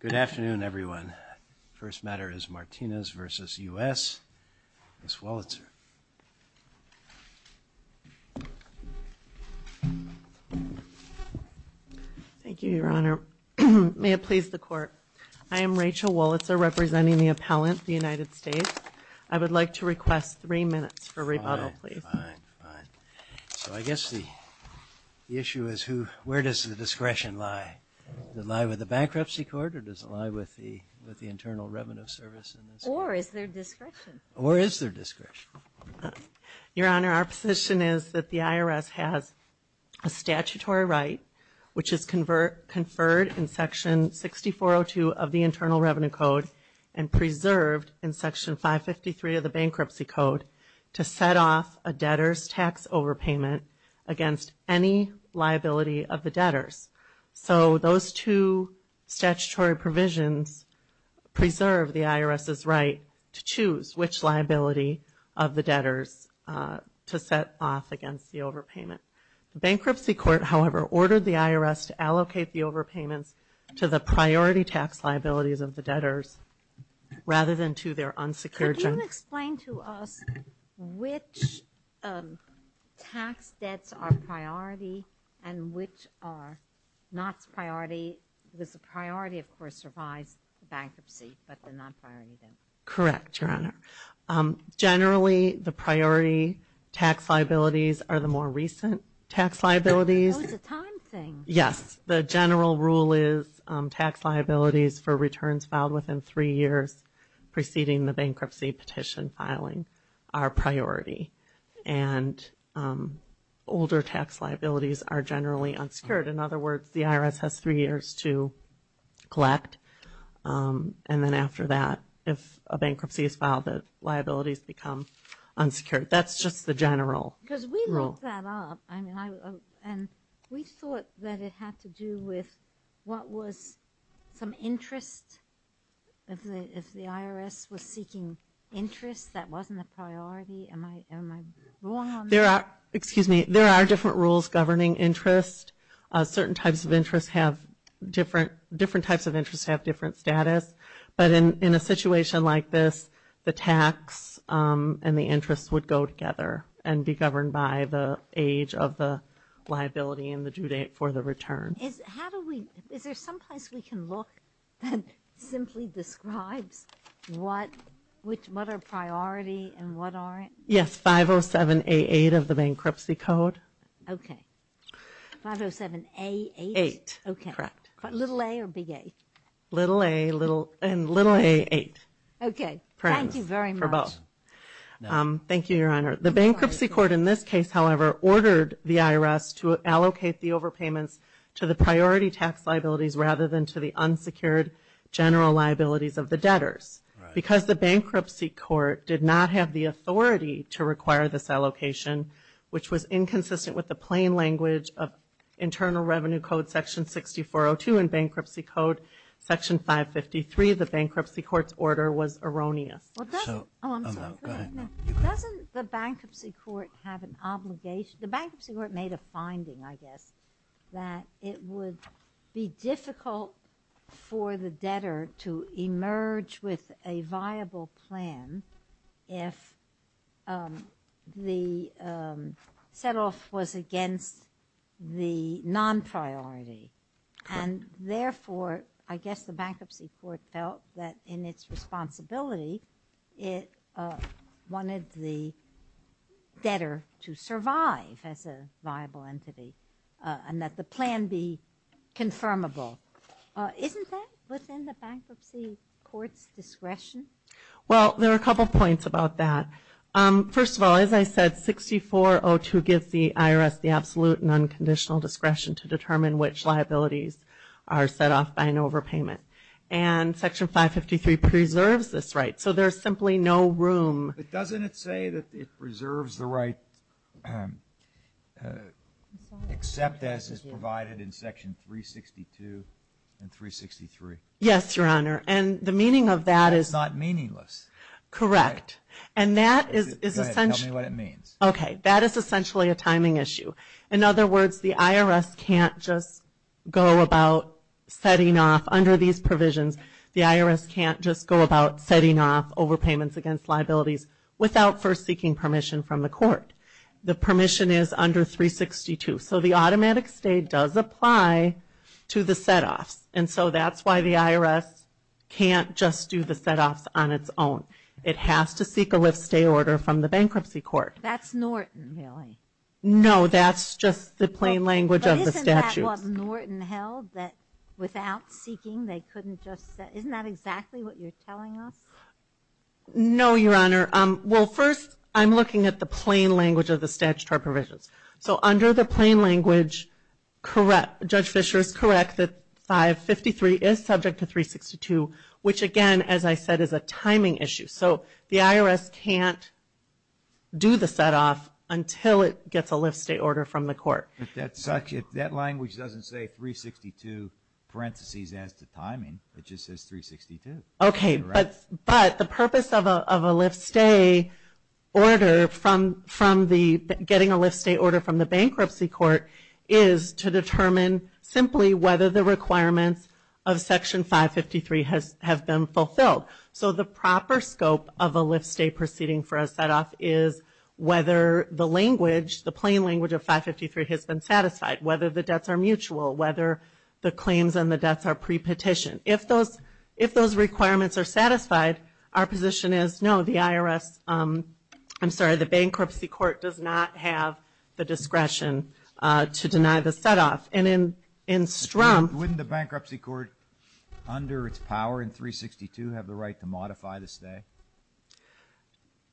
Good afternoon, everyone. First matter is Martinez v. U.S., Ms. Wolitzer. Thank you, Your Honor. May it please the Court, I am Rachel Wolitzer, representing the appellant, the United States. I would like to request three minutes for rebuttal, please. Fine, fine. So I guess the issue is, where does the discretion lie? Does it lie with the bankruptcy court or does it lie with the Internal Revenue Service? Or is there discretion? Or is there discretion? Your Honor, our position is that the IRS has a statutory right, which is conferred in Section 6402 of the Internal Revenue Code and preserved in Section 553 of the Bankruptcy Code to set off a debtor's tax overpayment against any liability of the debtors. So those two statutory provisions preserve the IRS's right to choose which liability of the debtors to set off against the overpayment. The bankruptcy court, however, ordered the IRS to allocate the overpayments to the priority tax liabilities of the debtors, rather than to their unsecured debtors. Could you explain to us which tax debts are priority and which are not priority? Because the priority, of course, survives the bankruptcy, but the non-priority doesn't. Correct, Your Honor. Generally, the priority tax liabilities are the more recent tax liabilities. That was a time thing. Yes. The general rule is tax liabilities for returns filed within three years preceding the bankruptcy petition filing are priority, and older tax liabilities are generally unsecured. In other words, the IRS has three years to collect, and then after that, if a bankruptcy is filed, the liabilities become unsecured. That's just the general rule. Because we looked that up, and we thought that it had to do with what was some interest. If the IRS was seeking interest, that wasn't a priority. Am I wrong on that? Excuse me. There are different rules governing interest. Certain types of interest have different status. But in a situation like this, the tax and the interest would go together and be governed by the age of the liability and the due date for the return. Is there some place we can look that simply describes what are priority and what aren't? Yes. 507A8 of the bankruptcy code. Okay. 507A8? Eight. Okay. Correct. Little A or big A? Little A and little A8. Okay. Thank you very much. For both. Thank you, Your Honor. The bankruptcy court in this case, however, ordered the IRS to allocate the overpayments to the priority tax liabilities rather than to the unsecured general liabilities of the debtors. Because the bankruptcy court did not have the authority to require this allocation, which was inconsistent with the plain language of Internal Revenue Code Section 6402 and Bankruptcy Code Section 553, the bankruptcy court's order was erroneous. Oh, I'm sorry. Go ahead. Doesn't the bankruptcy court have an obligation? The bankruptcy court made a finding, I guess, that it would be difficult for the debtor to emerge with a viable plan if the set-off was against the non-priority. And therefore, I guess the bankruptcy court felt that in its responsibility, it wanted the debtor to survive as a viable entity and that the plan be confirmable. Isn't that within the bankruptcy court's discretion? Well, there are a couple of points about that. First of all, as I said, 6402 gives the IRS the absolute and unconditional discretion to determine which liabilities are set off by an overpayment. And Section 553 preserves this right. So there's simply no room. But doesn't it say that it preserves the right except as is provided in Section 362 and 363? Yes, Your Honor. And the meaning of that is not meaningless. Correct. And that is essentially a timing issue. In other words, the IRS can't just go about setting off under these provisions. The IRS can't just go about setting off overpayments against liabilities without first seeking permission from the court. The permission is under 362. So the automatic stay does apply to the set-offs. And so that's why the IRS can't just do the set-offs on its own. It has to seek a lift stay order from the bankruptcy court. That's Norton, really. No, that's just the plain language of the statute. But isn't that what Norton held, that without seeking they couldn't just set? Isn't that exactly what you're telling us? No, Your Honor. Well, first I'm looking at the plain language of the statutory provisions. So under the plain language, Judge Fischer is correct that 553 is subject to 362, which again, as I said, is a timing issue. So the IRS can't do the set-off until it gets a lift stay order from the court. But that language doesn't say 362 parentheses as to timing. It just says 362. Okay, but the purpose of a lift stay order from getting a lift stay order from the bankruptcy court is to determine simply whether the requirements of Section 553 have been fulfilled. So the proper scope of a lift stay proceeding for a set-off is whether the language, the plain language of 553 has been satisfied, whether the debts are mutual, whether the claims on the debts are pre-petitioned. If those requirements are satisfied, our position is, no, the bankruptcy court does not have the discretion to deny the set-off. Wouldn't the bankruptcy court, under its power in 362, have the right to modify the stay?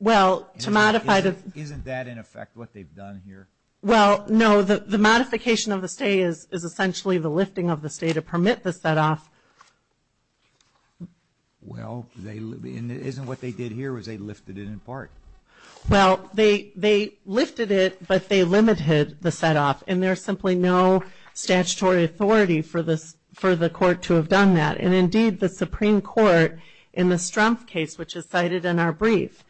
Isn't that, in effect, what they've done here? Well, no. The modification of the stay is essentially the lifting of the stay to permit the set-off. Well, isn't what they did here was they lifted it in part? Well, they lifted it, but they limited the set-off. And there's simply no statutory authority for the court to have done that. And, indeed, the Supreme Court, in the Strumpf case, which is cited in our brief,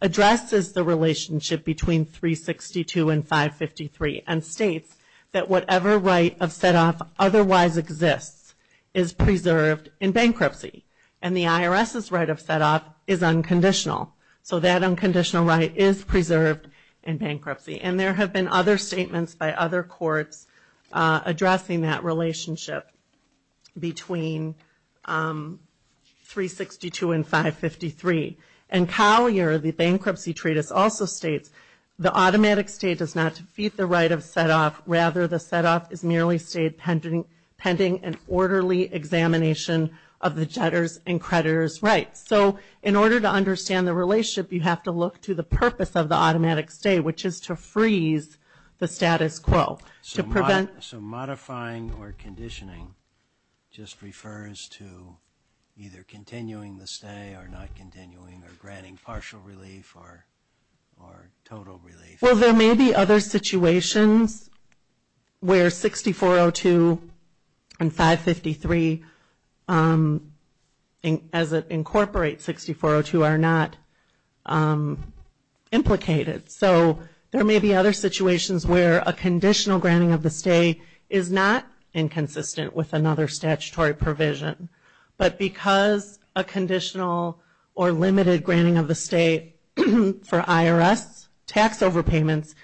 addresses the relationship between 362 and 553 and states that whatever right of set-off otherwise exists is preserved in bankruptcy. And the IRS's right of set-off is unconditional. So that unconditional right is preserved in bankruptcy. And there have been other statements by other courts addressing that relationship between 362 and 553. And Collier, the bankruptcy treatise, also states, the automatic stay does not defeat the right of set-off. Rather, the set-off is merely stayed pending an orderly examination of the debtor's and creditor's rights. So in order to understand the relationship, you have to look to the purpose of the automatic stay, which is to freeze the status quo. So modifying or conditioning just refers to either continuing the stay or not continuing or granting partial relief or total relief. Well, there may be other situations where 6402 and 553, as it incorporates 6402, are not implicated. So there may be other situations where a conditional granting of the stay is not inconsistent with another statutory provision. But because a conditional or limited granting of the stay for IRS tax overpayments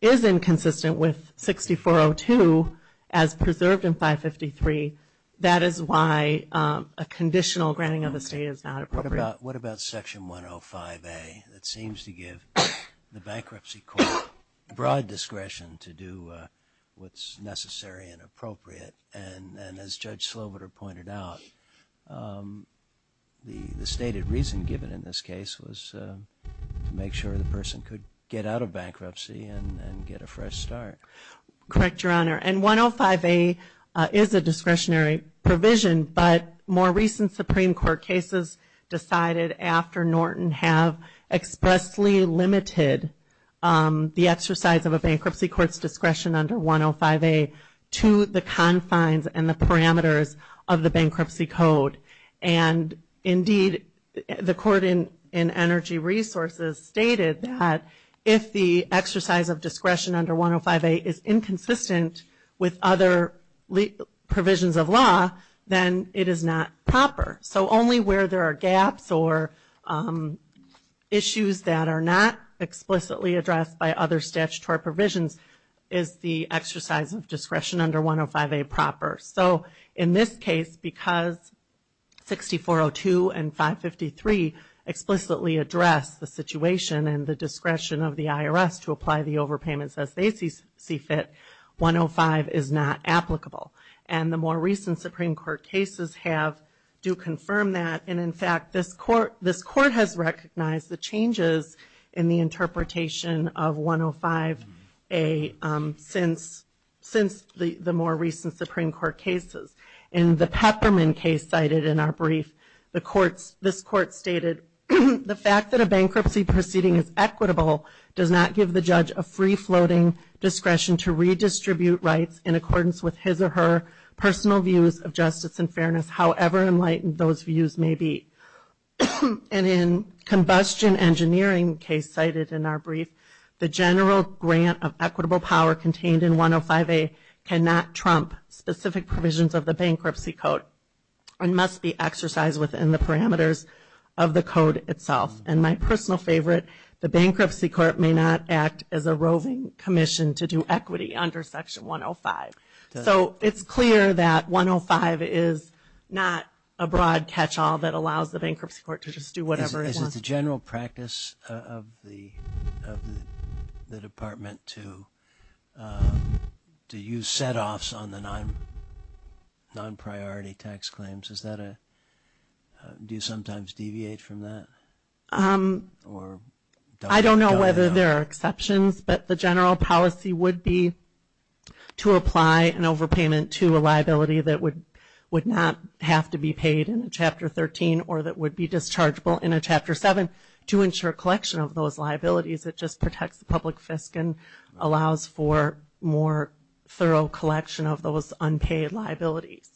is inconsistent with 6402, as preserved in 553, that is why a conditional granting of the stay is not appropriate. What about Section 105A? It seems to give the bankruptcy court broad discretion to do what's necessary and appropriate. And as Judge Sloviter pointed out, the stated reason given in this case was to make sure the person could get out of bankruptcy and get a fresh start. Correct, Your Honor. And 105A is a discretionary provision, but more recent Supreme Court cases decided after Norton have expressly limited the exercise of a bankruptcy court's discretion under 105A to the confines and the parameters of the bankruptcy code. And indeed, the Court in Energy Resources stated that if the exercise of discretion under 105A is inconsistent with other provisions of law, then it is not proper. So only where there are gaps or issues that are not explicitly addressed by other statutory provisions is the exercise of discretion under 105A proper. So in this case, because 6402 and 553 explicitly address the situation and the discretion of the IRS to apply the overpayments as they see fit, 105 is not applicable. And the more recent Supreme Court cases do confirm that. And in fact, this Court has recognized the changes in the interpretation of 105A since the more recent Supreme Court cases. In the Peppermint case cited in our brief, this Court stated, the fact that a bankruptcy proceeding is equitable does not give the judge a free-floating discretion to redistribute rights in accordance with his or her personal views of justice and fairness, however enlightened those views may be. And in the Combustion Engineering case cited in our brief, the general grant of equitable power contained in 105A cannot trump specific provisions of the bankruptcy code and must be exercised within the parameters of the code itself. And my personal favorite, the Bankruptcy Court may not act as a roving commission to do equity under Section 105. So it's clear that 105 is not a broad catch-all that allows the Bankruptcy Court to just do whatever it wants. Is it the general practice of the Department to use set-offs on the non-priority tax claims? Do you sometimes deviate from that? I don't know whether there are exceptions, but the general policy would be to apply an overpayment to a liability that would not have to be paid in Chapter 13 or that would be dischargeable in a Chapter 7 to ensure collection of those liabilities. It just protects the public fiscal and allows for more thorough collection of those unpaid liabilities.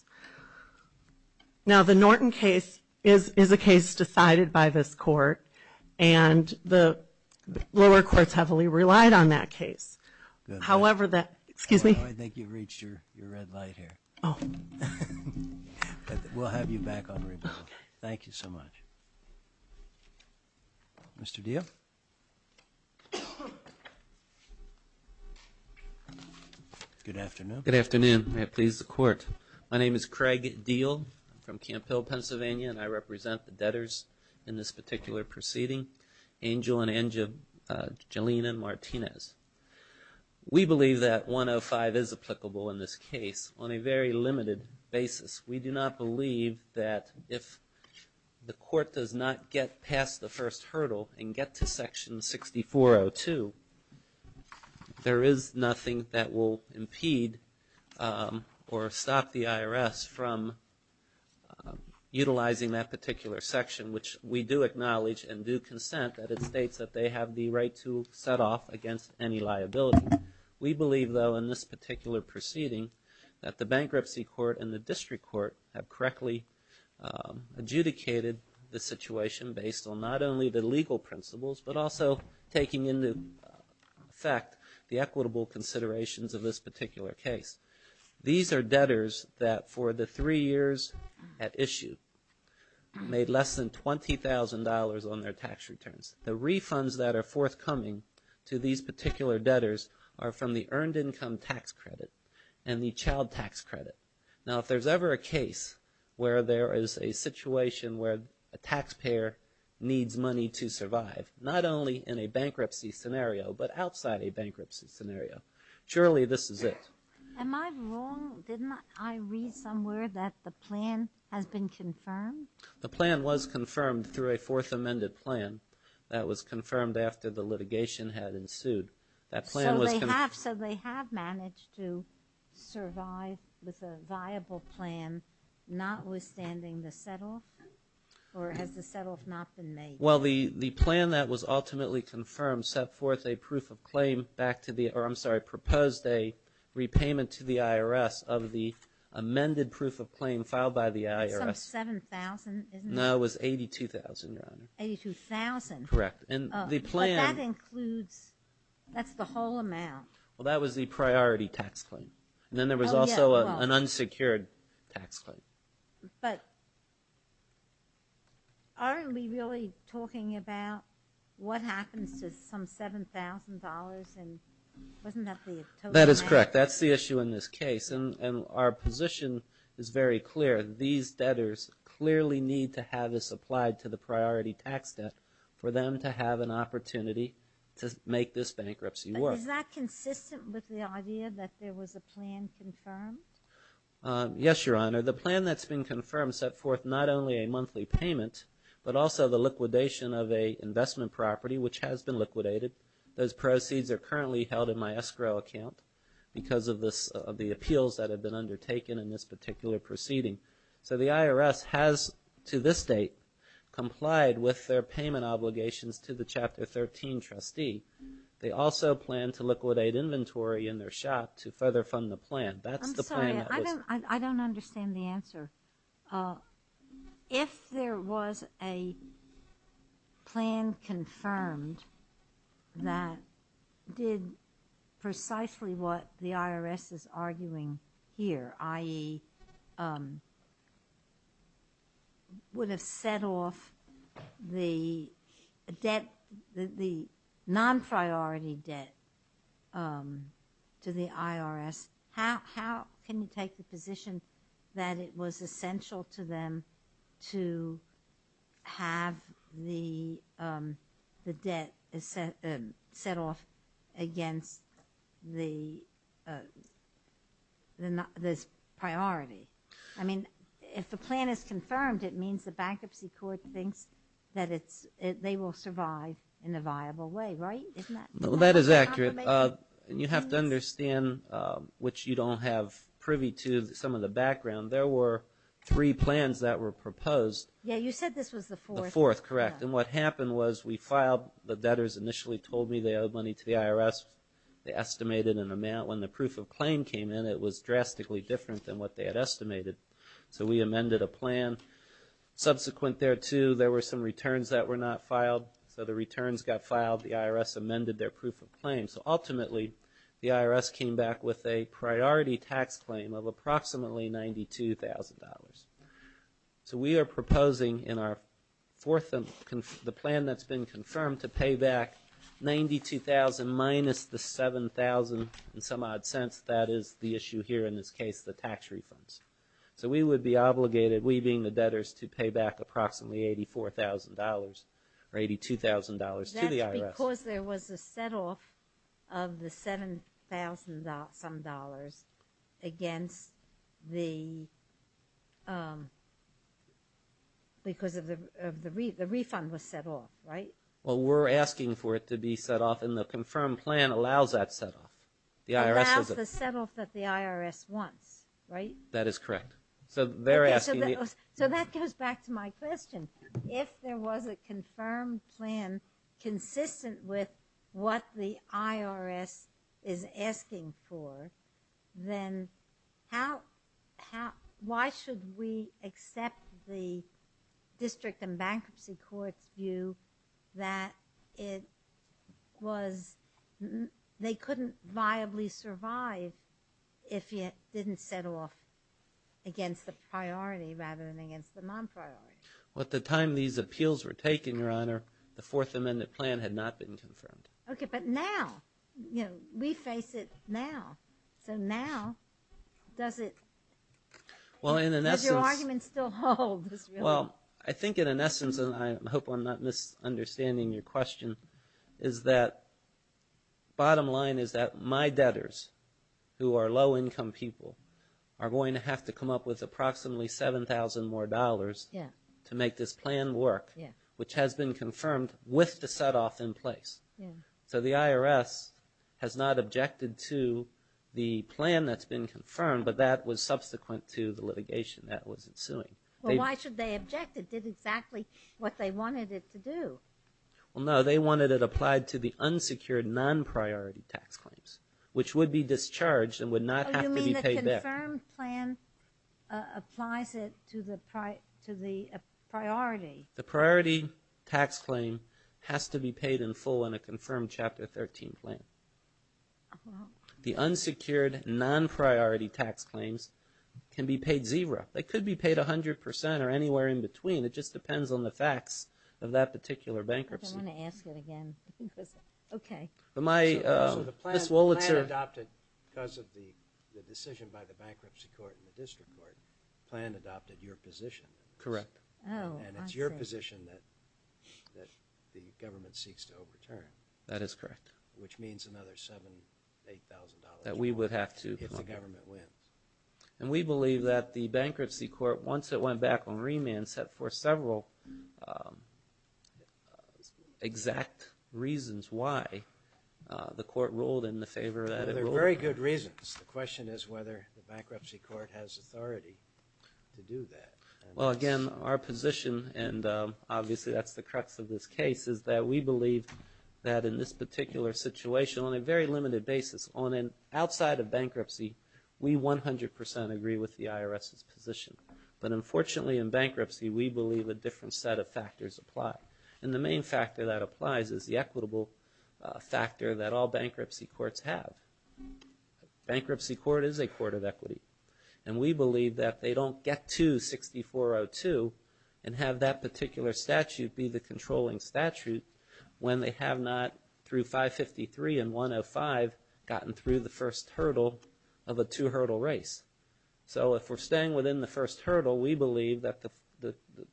Now, the Norton case is a case decided by this court, and the lower courts heavily relied on that case. However, that, excuse me. I think you've reached your red light here. Oh. We'll have you back on rebuttal. Okay. Thank you so much. Mr. Diep? Good afternoon. Good afternoon. May it please the Court. My name is Craig Diehl. I'm from Camp Hill, Pennsylvania, and I represent the debtors in this particular proceeding, Angel and Angelina Martinez. We believe that 105 is applicable in this case on a very limited basis. We do not believe that if the court does not get past the first hurdle and get to Section 6402, there is nothing that will impede or stop the IRS from utilizing that particular section, which we do acknowledge and do consent that it states that they have the right to set off against any liability. We believe, though, in this particular proceeding that the bankruptcy court and the district court have correctly adjudicated the situation based on not only the legal principles but also taking into effect the equitable considerations of this particular case. These are debtors that for the three years at issue made less than $20,000 on their tax returns. The refunds that are forthcoming to these particular debtors are from the earned income tax credit and the child tax credit. Now, if there's ever a case where there is a situation where a taxpayer needs money to survive, not only in a bankruptcy scenario but outside a bankruptcy scenario, surely this is it. Am I wrong? Didn't I read somewhere that the plan has been confirmed? The plan was confirmed through a fourth amended plan that was confirmed after the litigation had ensued. So they have managed to survive with a viable plan, notwithstanding the set-off? Or has the set-off not been made? Well, the plan that was ultimately confirmed set forth a proof of claim back to the IRS I'm sorry, proposed a repayment to the IRS of the amended proof of claim filed by the IRS. Some $7,000, isn't it? No, it was $82,000, Your Honor. $82,000? Correct. But that includes, that's the whole amount. Well, that was the priority tax claim. And then there was also an unsecured tax claim. But aren't we really talking about what happens to some $7,000 and wasn't that the total amount? That is correct. That's the issue in this case. And our position is very clear. These debtors clearly need to have this applied to the priority tax debt for them to have an opportunity to make this bankruptcy work. Is that consistent with the idea that there was a plan confirmed? Yes, Your Honor. The plan that's been confirmed set forth not only a monthly payment, but also the liquidation of an investment property, which has been liquidated. Those proceeds are currently held in my escrow account because of the appeals that have been undertaken in this particular proceeding. So the IRS has, to this date, complied with their payment obligations to the Chapter 13 trustee. They also plan to liquidate inventory in their shop to further fund the plan. I'm sorry. I don't understand the answer. If there was a plan confirmed that did precisely what the IRS is arguing here, i.e., would have set off the debt, the non-priority debt to the IRS, how can you take the position that it was essential to them to have the debt set off against this priority? I mean, if the plan is confirmed, it means the bankruptcy court thinks that they will survive in a viable way, right? That is accurate. You have to understand, which you don't have privy to, some of the background. There were three plans that were proposed. Yeah, you said this was the fourth. The fourth, correct. And what happened was we filed. The debtors initially told me they owed money to the IRS. They estimated an amount. When the proof of claim came in, it was drastically different than what they had estimated. So we amended a plan. Subsequent thereto, there were some returns that were not filed. So the returns got filed. The IRS amended their proof of claim. So ultimately, the IRS came back with a priority tax claim of approximately $92,000. So we are proposing in our fourth, the plan that's been confirmed, to pay back $92,000 minus the $7,000 in some odd sense. That is the issue here in this case, the tax refunds. So we would be obligated, we being the debtors, to pay back approximately $84,000 or $82,000 to the IRS. Because there was a set-off of the $7,000 some dollars against the, because the refund was set off, right? Well, we're asking for it to be set off, and the confirmed plan allows that set-off. It allows the set-off that the IRS wants, right? That is correct. So that goes back to my question. If there was a confirmed plan consistent with what the IRS is asking for, then why should we accept the District and Bankruptcy Court's view that it was, they couldn't viably survive if it didn't set off against the priority rather than against the non-priority? Well, at the time these appeals were taken, Your Honor, the Fourth Amendment plan had not been confirmed. Okay, but now, you know, we face it now. So now, does it, does your argument still hold? Well, I think in an essence, and I hope I'm not misunderstanding your question, is that bottom line is that my debtors, who are low-income people, are going to have to come up with approximately $7,000 more to make this plan work, which has been confirmed with the set-off in place. So the IRS has not objected to the plan that's been confirmed, but that was subsequent to the litigation that was ensuing. Well, why should they object? It did exactly what they wanted it to do. Well, no, they wanted it applied to the unsecured non-priority tax claims, which would be discharged and would not have to be paid back. Oh, you mean the confirmed plan applies it to the priority? The priority tax claim has to be paid in full in a confirmed Chapter 13 plan. The unsecured non-priority tax claims can be paid zero. They could be paid 100% or anywhere in between. It just depends on the facts of that particular bankruptcy. I don't want to ask it again. Okay. So the plan adopted because of the decision by the bankruptcy court and the district court, the plan adopted your position. Correct. And it's your position that the government seeks to overturn. That is correct. Which means another $7,000, $8,000 more if the government wins. And we believe that the bankruptcy court, once it went back on remand, set forth several exact reasons why the court ruled in the favor that it ruled. They're very good reasons. The question is whether the bankruptcy court has authority to do that. Well, again, our position, and obviously that's the crux of this case, is that we believe that in this particular situation, on a very limited basis, on an outside of bankruptcy, we 100% agree with the IRS's position. But unfortunately in bankruptcy, we believe a different set of factors apply. And the main factor that applies is the equitable factor that all bankruptcy courts have. Bankruptcy court is a court of equity. And we believe that they don't get to 6402 and have that particular statute be the controlling statute when they have not, through 553 and 105, gotten through the first hurdle of a two-hurdle race. So if we're staying within the first hurdle, we believe that the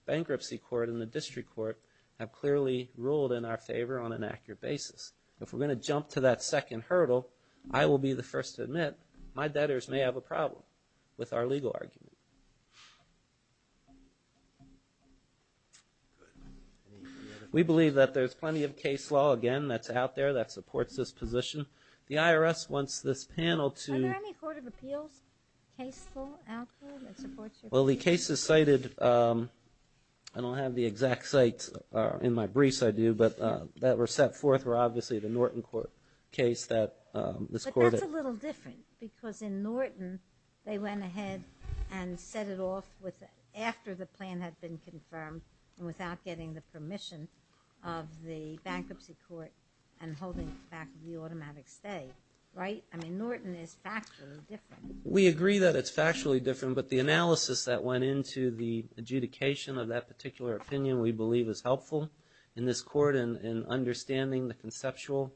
bankruptcy court and the district court have clearly ruled in our favor on an accurate basis. If we're going to jump to that second hurdle, I will be the first to admit my debtors may have a problem with our legal argument. Good. We believe that there's plenty of case law, again, that's out there that supports this position. The IRS wants this panel to... Are there any court of appeals case law out there that supports your position? Well, the cases cited, I don't have the exact sites in my briefs, I do, but that were set forth were obviously the Norton case that this court... Well, that's a little different, because in Norton, they went ahead and set it off after the plan had been confirmed and without getting the permission of the bankruptcy court and holding back the automatic stay, right? I mean, Norton is factually different. We agree that it's factually different, but the analysis that went into the adjudication of that particular opinion we believe is helpful in this court in understanding the conceptual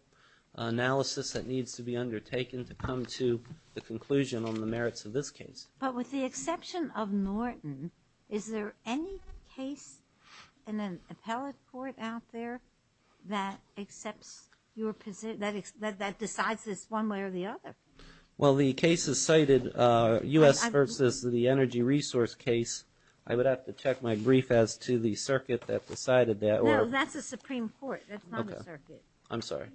analysis that needs to be undertaken to come to the conclusion on the merits of this case. But with the exception of Norton, is there any case in an appellate court out there that accepts your position, that decides this one way or the other? Well, the cases cited, U.S. versus the Energy Resource case, I would have to check my brief as to the circuit that decided that. I'm sorry.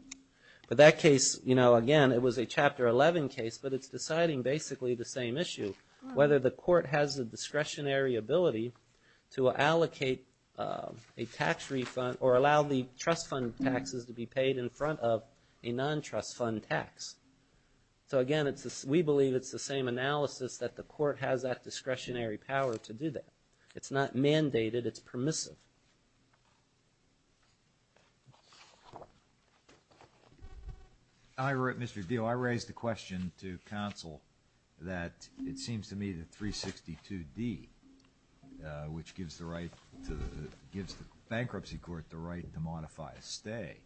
But that case, you know, again, it was a Chapter 11 case, but it's deciding basically the same issue, whether the court has the discretionary ability to allocate a tax refund or allow the trust fund taxes to be paid in front of a non-trust fund tax. So again, we believe it's the same analysis that the court has that discretionary power to do that. It's not mandated, it's permissive. Mr. Diehl, I raised the question to counsel that it seems to me that 362D, which gives the bankruptcy court the right to modify a stay,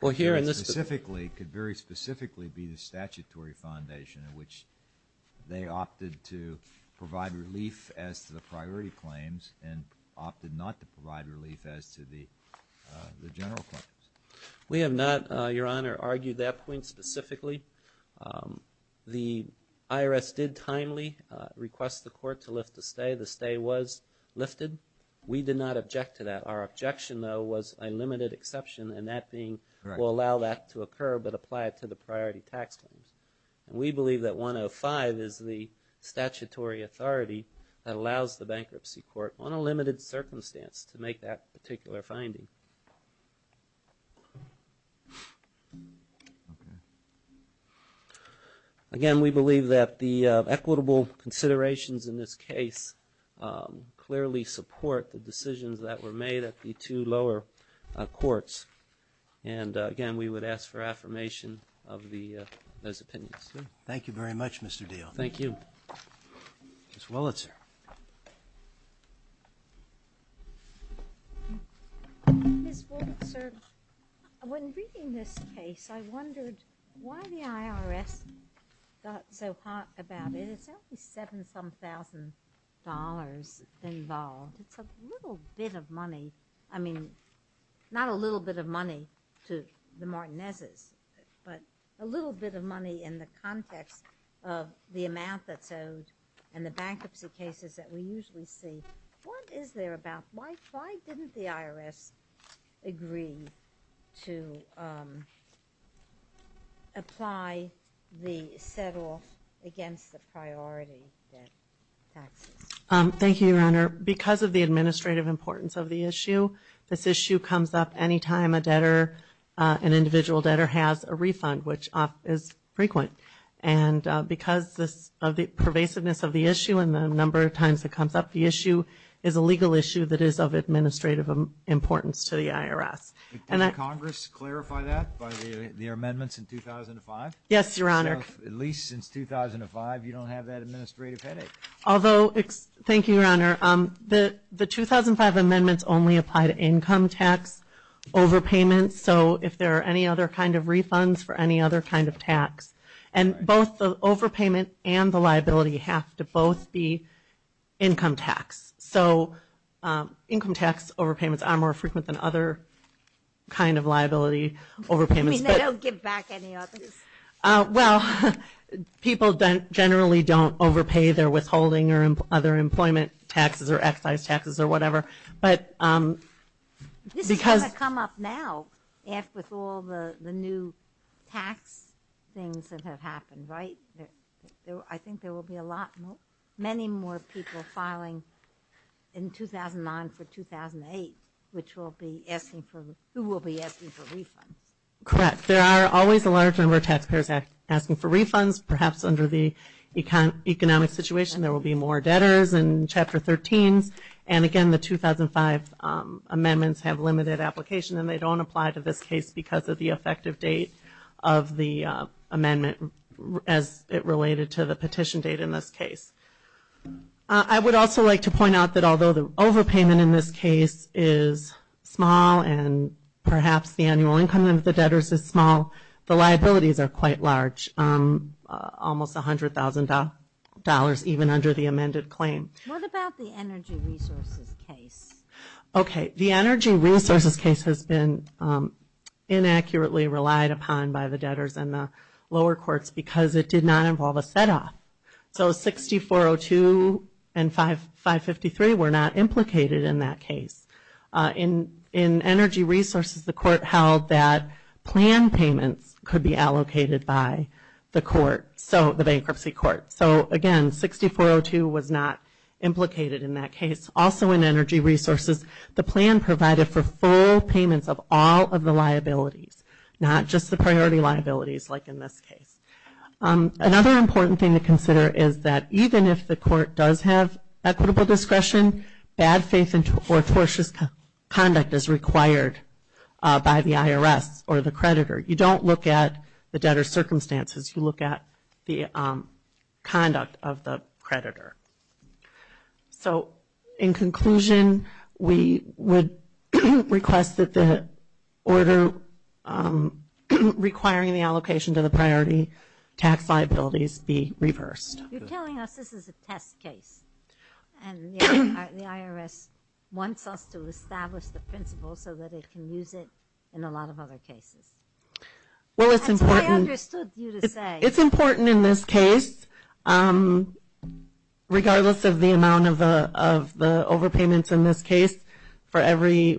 could very specifically be the statutory foundation in which they opted to provide relief as to the priority claims and opted not to provide relief as to the general claims. We have not, Your Honor, argued that point specifically. The IRS did timely request the court to lift the stay. The stay was lifted. We did not object to that. Our objection, though, was a limited exception, and that being we'll allow that to occur but apply it to the priority tax claims. And we believe that 105 is the statutory authority that allows the bankruptcy court on a limited circumstance to make that particular finding. Again, we believe that the equitable considerations in this case clearly support the decisions that were made at the two lower courts. And again, we would ask for affirmation of those opinions. Thank you very much, Mr. Diehl. Thank you. Ms. Wolitzer. Ms. Wolitzer, when reading this case, I wondered why the IRS got so hot about it. It's only seven-some thousand dollars involved. It's a little bit of money. I mean, not a little bit of money to the Martinez's, but a little bit of money in the context of the amount that's owed and the bankruptcy cases that we usually see. What is there about why didn't the IRS agree to apply the set-off against the priority debt taxes? Thank you, Your Honor. Because of the administrative importance of the issue, this issue comes up any time an individual debtor has a refund, which is frequent. And because of the pervasiveness of the issue and the number of times it comes up, the issue is a legal issue that is of administrative importance to the IRS. Did Congress clarify that by their amendments in 2005? Yes, Your Honor. So at least since 2005, you don't have that administrative headache. Thank you, Your Honor. The 2005 amendments only apply to income tax overpayments, so if there are any other kind of refunds for any other kind of tax. And both the overpayment and the liability have to both be income tax. So income tax overpayments are more frequent than other kind of liability. You mean they don't give back any of it? Well, people generally don't overpay their withholding or other employment taxes or excise taxes or whatever. This is going to come up now with all the new tax things that have happened, right? I think there will be many more people filing in 2009 for 2008, who will be asking for refunds. Correct. There are always a large number of taxpayers asking for refunds. Perhaps under the economic situation, there will be more debtors in Chapter 13. And again, the 2005 amendments have limited application, and they don't apply to this case because of the effective date of the amendment as it related to the petition date in this case. I would also like to point out that although the overpayment in this case is small and perhaps the annual income of the debtors is small, the liabilities are quite large, almost $100,000 even under the amended claim. What about the energy resources case? Okay. The energy resources case has been inaccurately relied upon by the debtors in the lower courts because it did not involve a set-off. So 6402 and 553 were not implicated in that case. In energy resources, the court held that plan payments could be allocated by the bankruptcy court. So again, 6402 was not implicated in that case. Also in energy resources, the plan provided for full payments of all of the liabilities, not just the priority liabilities like in this case. Another important thing to consider is that even if the court does have equitable discretion, bad faith or tortious conduct is required by the IRS or the creditor. You don't look at the debtor's circumstances, you look at the conduct of the creditor. So in conclusion, we would request that the order requiring the allocation to the priority tax liabilities be reversed. You're telling us this is a test case and the IRS wants us to establish the principle so that it can use it in a lot of other cases. Well, it's important. That's what I understood you to say. It's important in this case. Regardless of the amount of the overpayments in this case, for every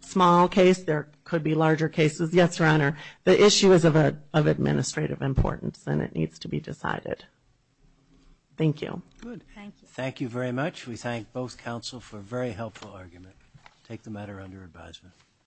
small case, there could be larger cases, yes, Your Honor. The issue is of administrative importance and it needs to be decided. Thank you. Thank you very much. We thank both counsel for a very helpful argument. Take the matter under advisement.